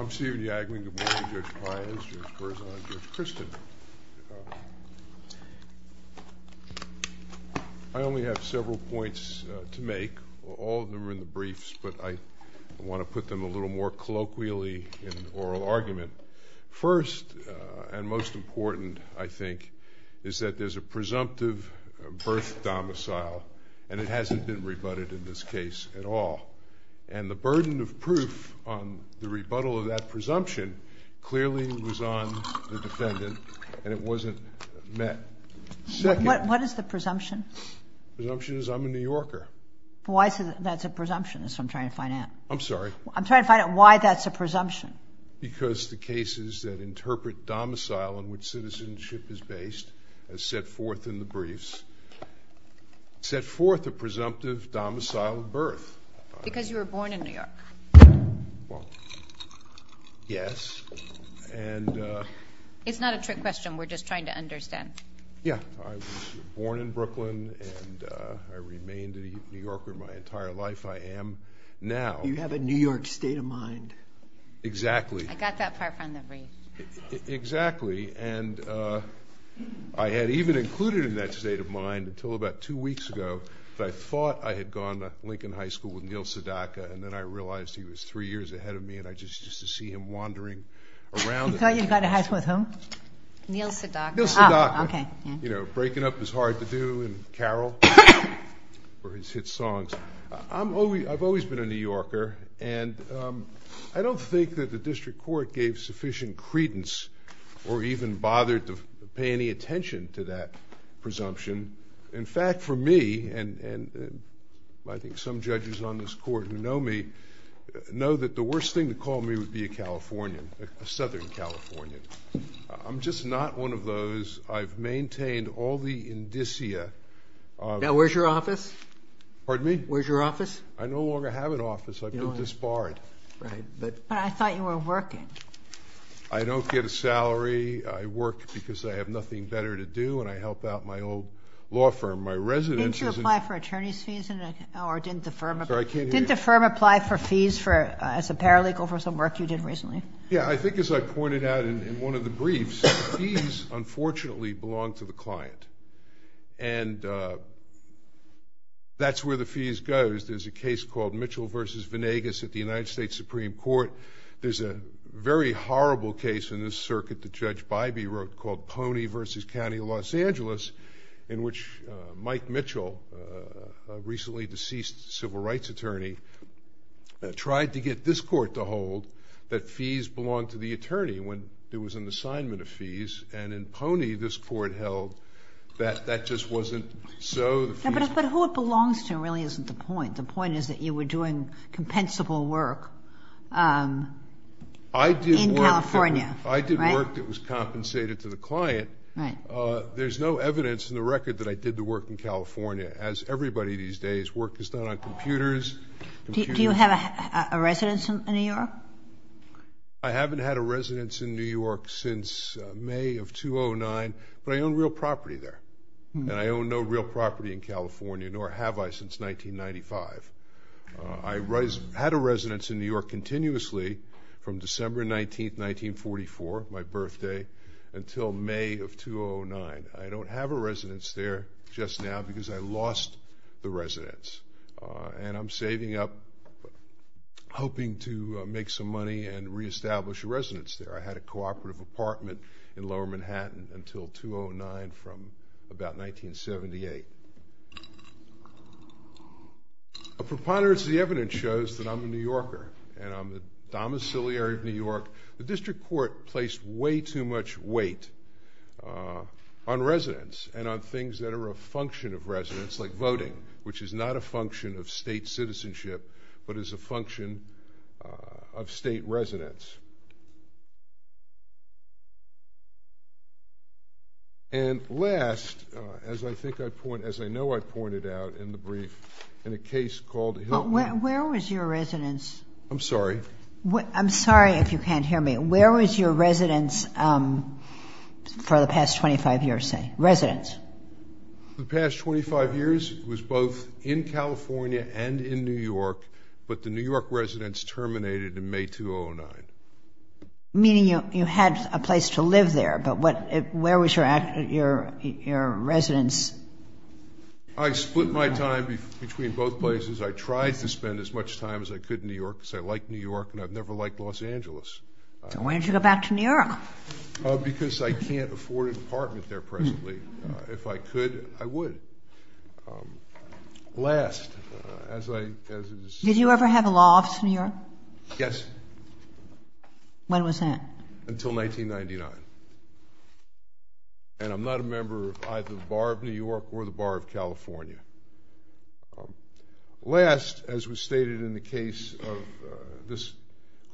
I'm Stephen Yagman. Good morning, Judge Pius, Judge Berzon, and Judge Kristen. I only have several points to make. All of them are in the briefs, but I want to put them a little more colloquially in oral argument. First, and most important, I think, is that there's a presumptive birth domicile, and it hasn't been rebutted in this case at all. And the burden of proof on the rebuttal of that presumption clearly was on the defendant, and it wasn't met. What is the presumption? The presumption is I'm a New Yorker. Why is that a presumption? That's what I'm trying to find out. I'm sorry? I'm trying to find out why that's a presumption. Because the cases that interpret domicile in which citizenship is based, as set forth in the briefs, set forth a presumptive domicile birth. Because you were born in New York. Well, yes, and... It's not a trick question. We're just trying to understand. Yeah. I was born in Brooklyn, and I remained a New Yorker my entire life. I am now... You have a New York state of mind. Exactly. I got that part from the brief. Exactly, and I had even included in that state of mind until about two weeks ago that I thought I had gone to Lincoln High School with Neil Sedaka, and then I realized he was three years ahead of me, and I just used to see him wandering around... You thought you'd gone to high school with whom? Neil Sedaka. Neil Sedaka. Oh, okay. You know, breaking up is hard to do, and Carol, for his hit songs. I've always been a New Yorker, and I don't think that the district court gave sufficient credence or even bothered to pay any attention to that presumption. In fact, for me, and I think some judges on this court who know me, know that the worst thing to call me would be a Californian, a Southern Californian. I'm just not one of those. I've maintained all the indicia. Now, where's your office? Pardon me? Where's your office? I no longer have an office. I've been disbarred. Right, but I thought you were working. I don't get a salary. I work because I have nothing better to do, and I help out my old law firm. My residence is in... Didn't you apply for attorney's fees, or didn't the firm... Sorry, I can't hear you. Didn't the firm apply for fees as a paralegal for some work you did recently? Yeah, I think as I pointed out in one of the briefs, fees, unfortunately, belong to the client, and that's where the fees go. There's a case called Mitchell v. Venegas at the United States Supreme Court. There's a very horrible case in this circuit that Judge Bybee wrote called Pony v. County of Los Angeles, in which Mike Mitchell, a recently deceased civil rights attorney, tried to get this court to hold that fees belonged to the attorney when there was an assignment of fees, and in Pony, this court held that that just wasn't so. But who it belongs to really isn't the point. The point is that you were doing compensable work in California. I did work that was compensated to the client. Right. There's no evidence in the record that I did the work in California. As everybody these days, work is done on computers. Do you have a residence in New York? I haven't had a residence in New York since May of 2009, but I own real property there, and I own no real property in California, nor have I since 1995. I had a residence in New York continuously from December 19, 1944, my birthday, until May of 2009. I don't have a residence there just now because I lost the residence, and I'm saving up, hoping to make some money and reestablish a residence there. I had a cooperative apartment in Lower Manhattan until 2009 from about 1978. A preponderance of the evidence shows that I'm a New Yorker, and I'm the domiciliary of New York. The district court placed way too much weight on residence and on things that are a function of residence, like voting, which is not a function of state citizenship but is a function of state residence. And last, as I think I point, as I know I pointed out in the brief, in a case called Hill- Where was your residence? I'm sorry. I'm sorry if you can't hear me. Where was your residence for the past 25 years, say? Residence. The past 25 years was both in California and in New York, but the New York residence terminated in May 2009. Meaning you had a place to live there, but where was your residence? I split my time between both places. I tried to spend as much time as I could in New York because I like New York, and I've never liked Los Angeles. Then why didn't you go back to New York? Because I can't afford an apartment there presently. If I could, I would. Did you ever have a law office in New York? Yes. When was that? Until 1999. And I'm not a member of either the Bar of New York or the Bar of California. Last, as was stated in the case of- this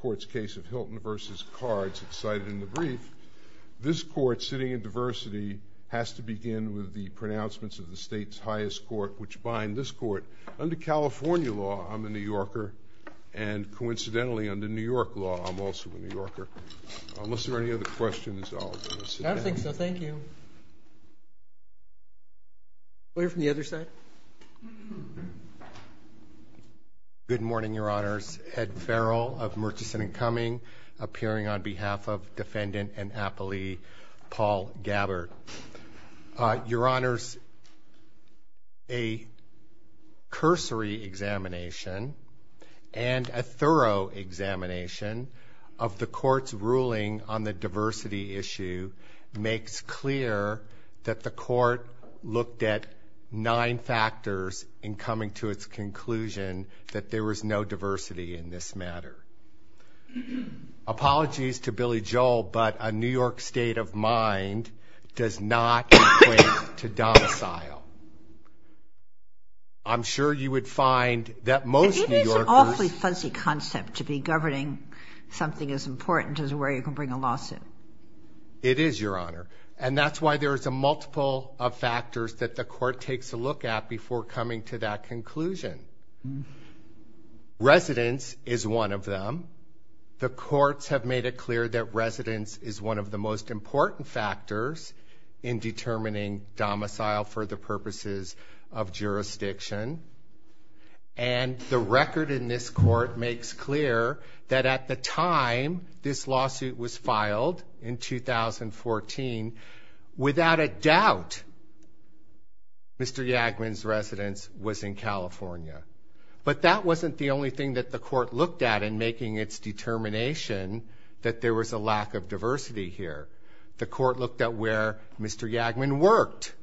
court's case of Hilton v. Cards, as cited in the brief, this court, sitting in diversity, has to begin with the pronouncements of the state's highest court, which bind this court. Under California law, I'm a New Yorker, and coincidentally under New York law, I'm also a New Yorker. Unless there are any other questions, I'll sit down. I don't think so. Thank you. We'll hear from the other side. Good morning, Your Honors. Ed Farrell of Murchison & Cumming, appearing on behalf of Defendant and Appellee Paul Gabbard. Your Honors, a cursory examination and a thorough examination of the court's ruling on the diversity issue makes clear that the court looked at nine factors in coming to its conclusion that there was no diversity in this matter. Apologies to Billy Joel, but a New York state of mind does not equate to domicile. I'm sure you would find that most New Yorkers- It is an awfully fuzzy concept to be governing something as important as where you can bring a lawsuit. It is, Your Honor, and that's why there is a multiple of factors that the court takes a look at before coming to that conclusion. Residence is one of them. The courts have made it clear that residence is one of the most important factors in determining domicile for the purposes of jurisdiction. And the record in this court makes clear that at the time this lawsuit was filed in 2014, without a doubt, Mr. Yagmin's residence was in California. But that wasn't the only thing that the court looked at in making its determination that there was a lack of diversity here. The court looked at where Mr. Yagmin worked.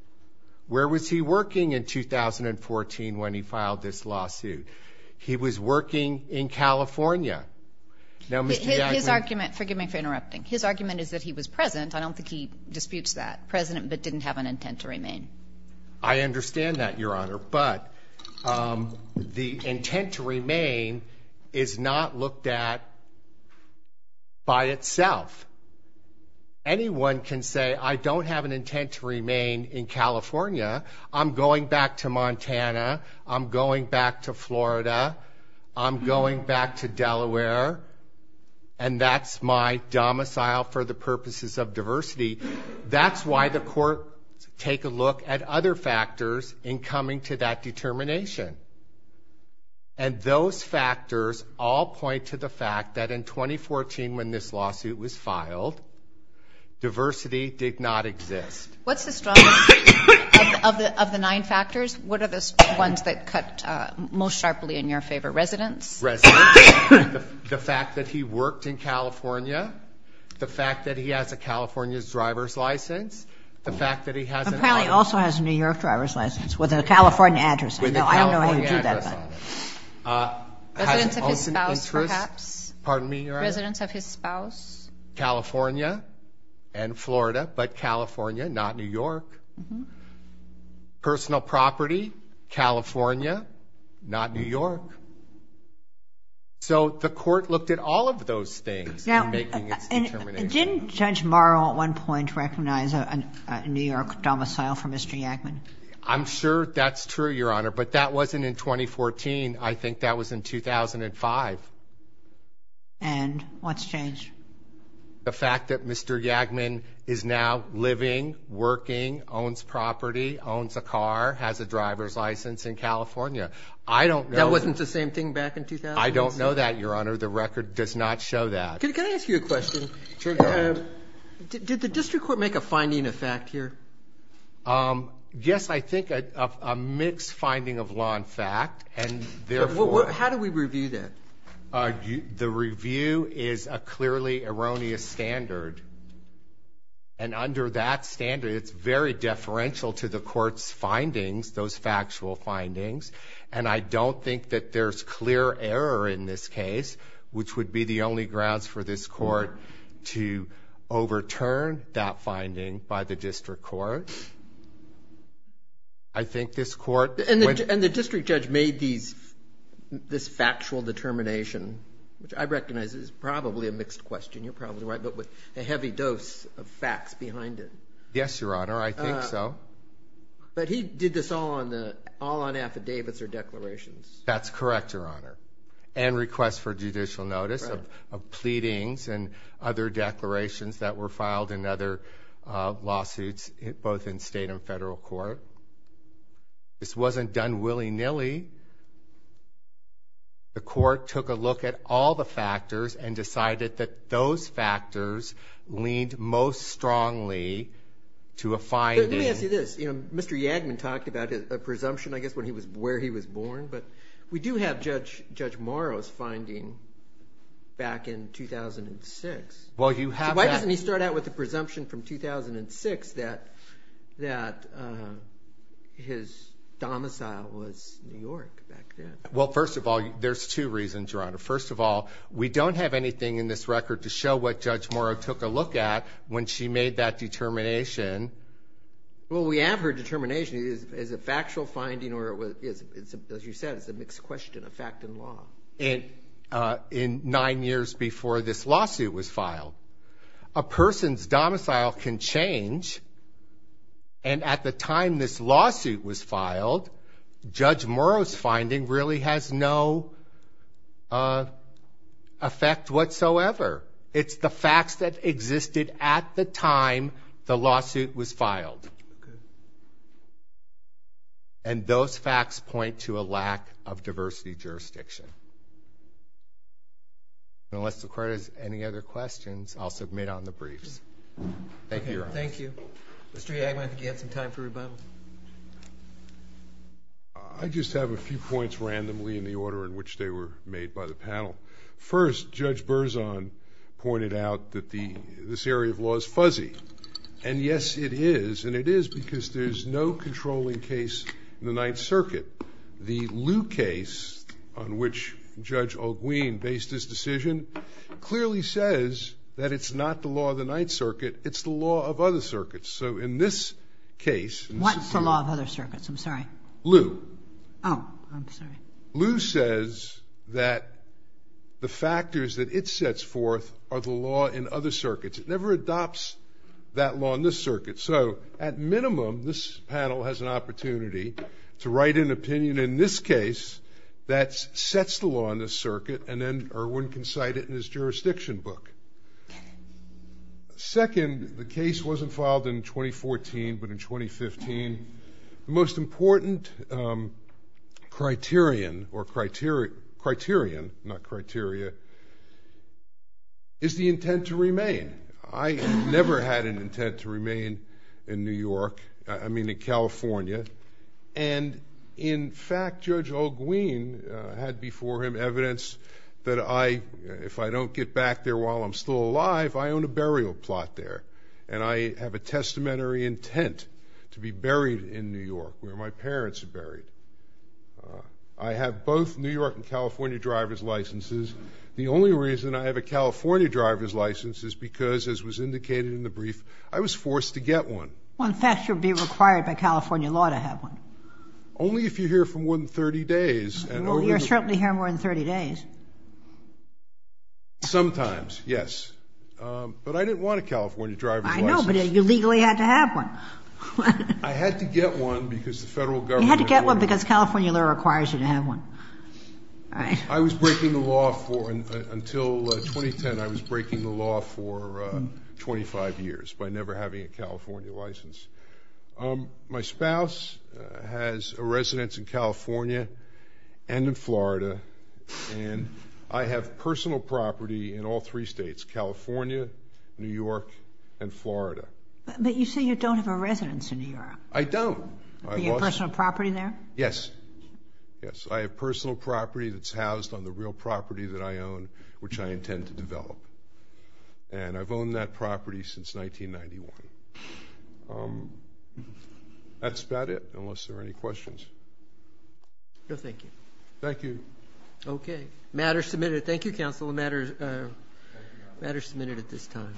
Where was he working in 2014 when he filed this lawsuit? He was working in California. Now, Mr. Yagmin- His argument- Forgive me for interrupting. His argument is that he was present. I don't think he disputes that. Present, but didn't have an intent to remain. I understand that, Your Honor, but the intent to remain is not looked at by itself. Anyone can say, I don't have an intent to remain in California. I'm going back to Montana. I'm going back to Florida. I'm going back to Delaware. And that's my domicile for the purposes of diversity. That's why the court take a look at other factors in coming to that determination. And those factors all point to the fact that in 2014 when this lawsuit was filed, diversity did not exist. What's the strongest of the nine factors? What are the ones that cut most sharply in your favor? Residence? Residence. The fact that he worked in California. The fact that he has a California driver's license. The fact that he has- He also has a New York driver's license with a California address. I don't know how you do that. Residence of his spouse, perhaps. Pardon me, Your Honor? Residence of his spouse. California and Florida, but California, not New York. Personal property, California, not New York. So the court looked at all of those things in making its determination. Didn't Judge Morrow at one point recognize a New York domicile for Mr. Yagman? I'm sure that's true, Your Honor, but that wasn't in 2014. I think that was in 2005. And what's changed? The fact that Mr. Yagman is now living, working, owns property, owns a car, has a driver's license in California. That wasn't the same thing back in 2007? I don't know that, Your Honor. The record does not show that. Can I ask you a question? Sure, go ahead. Did the district court make a finding of fact here? Yes, I think a mixed finding of law and fact, and therefore... How do we review that? The review is a clearly erroneous standard, and under that standard, it's very deferential to the court's findings, those factual findings, and I don't think that there's clear error in this case, which would be the only grounds for this court to overturn that finding by the district court. I think this court... And the district judge made this factual determination, which I recognize is probably a mixed question, you're probably right, but with a heavy dose of facts behind it. Yes, Your Honor, I think so. But he did this all on affidavits or declarations. That's correct, Your Honor, and requests for judicial notice of pleadings and other declarations that were filed in other lawsuits, both in state and federal court. This wasn't done willy-nilly. The court took a look at all the factors and decided that those factors leaned most strongly to a finding... Let me ask you this. Mr. Yagman talked about a presumption, I guess, where he was born, but we do have Judge Morrow's finding back in 2006. Why doesn't he start out with the presumption from 2006 that his domicile was New York back then? Well, first of all, there's two reasons, Your Honor. First of all, we don't have anything in this record to show what Judge Morrow took a look at when she made that determination. Well, we have her determination. Her determination is a factual finding or, as you said, it's a mixed question, a fact in law. In nine years before this lawsuit was filed. A person's domicile can change, and at the time this lawsuit was filed, Judge Morrow's finding really has no effect whatsoever. It's the facts that existed at the time the lawsuit was filed. And those facts point to a lack of diversity jurisdiction. Unless the Court has any other questions, I'll submit on the briefs. Thank you, Your Honor. Thank you. Mr. Yagman, do you have some time for rebuttal? I just have a few points randomly in the order in which they were made by the panel. First, Judge Berzon pointed out that this area of law is fuzzy. And, yes, it is. And it is because there's no controlling case in the Ninth Circuit. The Lew case, on which Judge Olguin based his decision, clearly says that it's not the law of the Ninth Circuit. It's the law of other circuits. So in this case, What's the law of other circuits? I'm sorry. Lew. Oh, I'm sorry. Lew says that the factors that it sets forth are the law in other circuits. It never adopts that law in this circuit. So, at minimum, this panel has an opportunity to write an opinion in this case that sets the law in this circuit, and then Erwin can cite it in his jurisdiction book. Second, the case wasn't filed in 2014, but in 2015. The most important criterion, or criterion, not criteria, is the intent to remain. I never had an intent to remain in New York, I mean in California. And, in fact, Judge Olguin had before him evidence that I, if I don't get back there while I'm still alive, I own a burial plot there. And I have a testamentary intent to be buried in New York, where my parents are buried. I have both New York and California driver's licenses. The only reason I have a California driver's license is because, as was indicated in the brief, I was forced to get one. Well, in fact, you would be required by California law to have one. Only if you're here for more than 30 days. Well, you're certainly here more than 30 days. Sometimes, yes. But I didn't want a California driver's license. I know, but you legally had to have one. I had to get one because the federal government had ordered it. You had to get one because California law requires you to have one. I was breaking the law for, until 2010, I was breaking the law for 25 years by never having a California license. My spouse has a residence in California and in Florida, and I have personal property in all three states, California, New York, and Florida. But you say you don't have a residence in New York. I don't. Do you have personal property there? Yes. Yes, I have personal property that's housed on the real property that I own, which I intend to develop. And I've owned that property since 1991. That's about it, unless there are any questions. No, thank you. Thank you. Okay. Matter submitted. Thank you, Counsel. The matter is submitted at this time.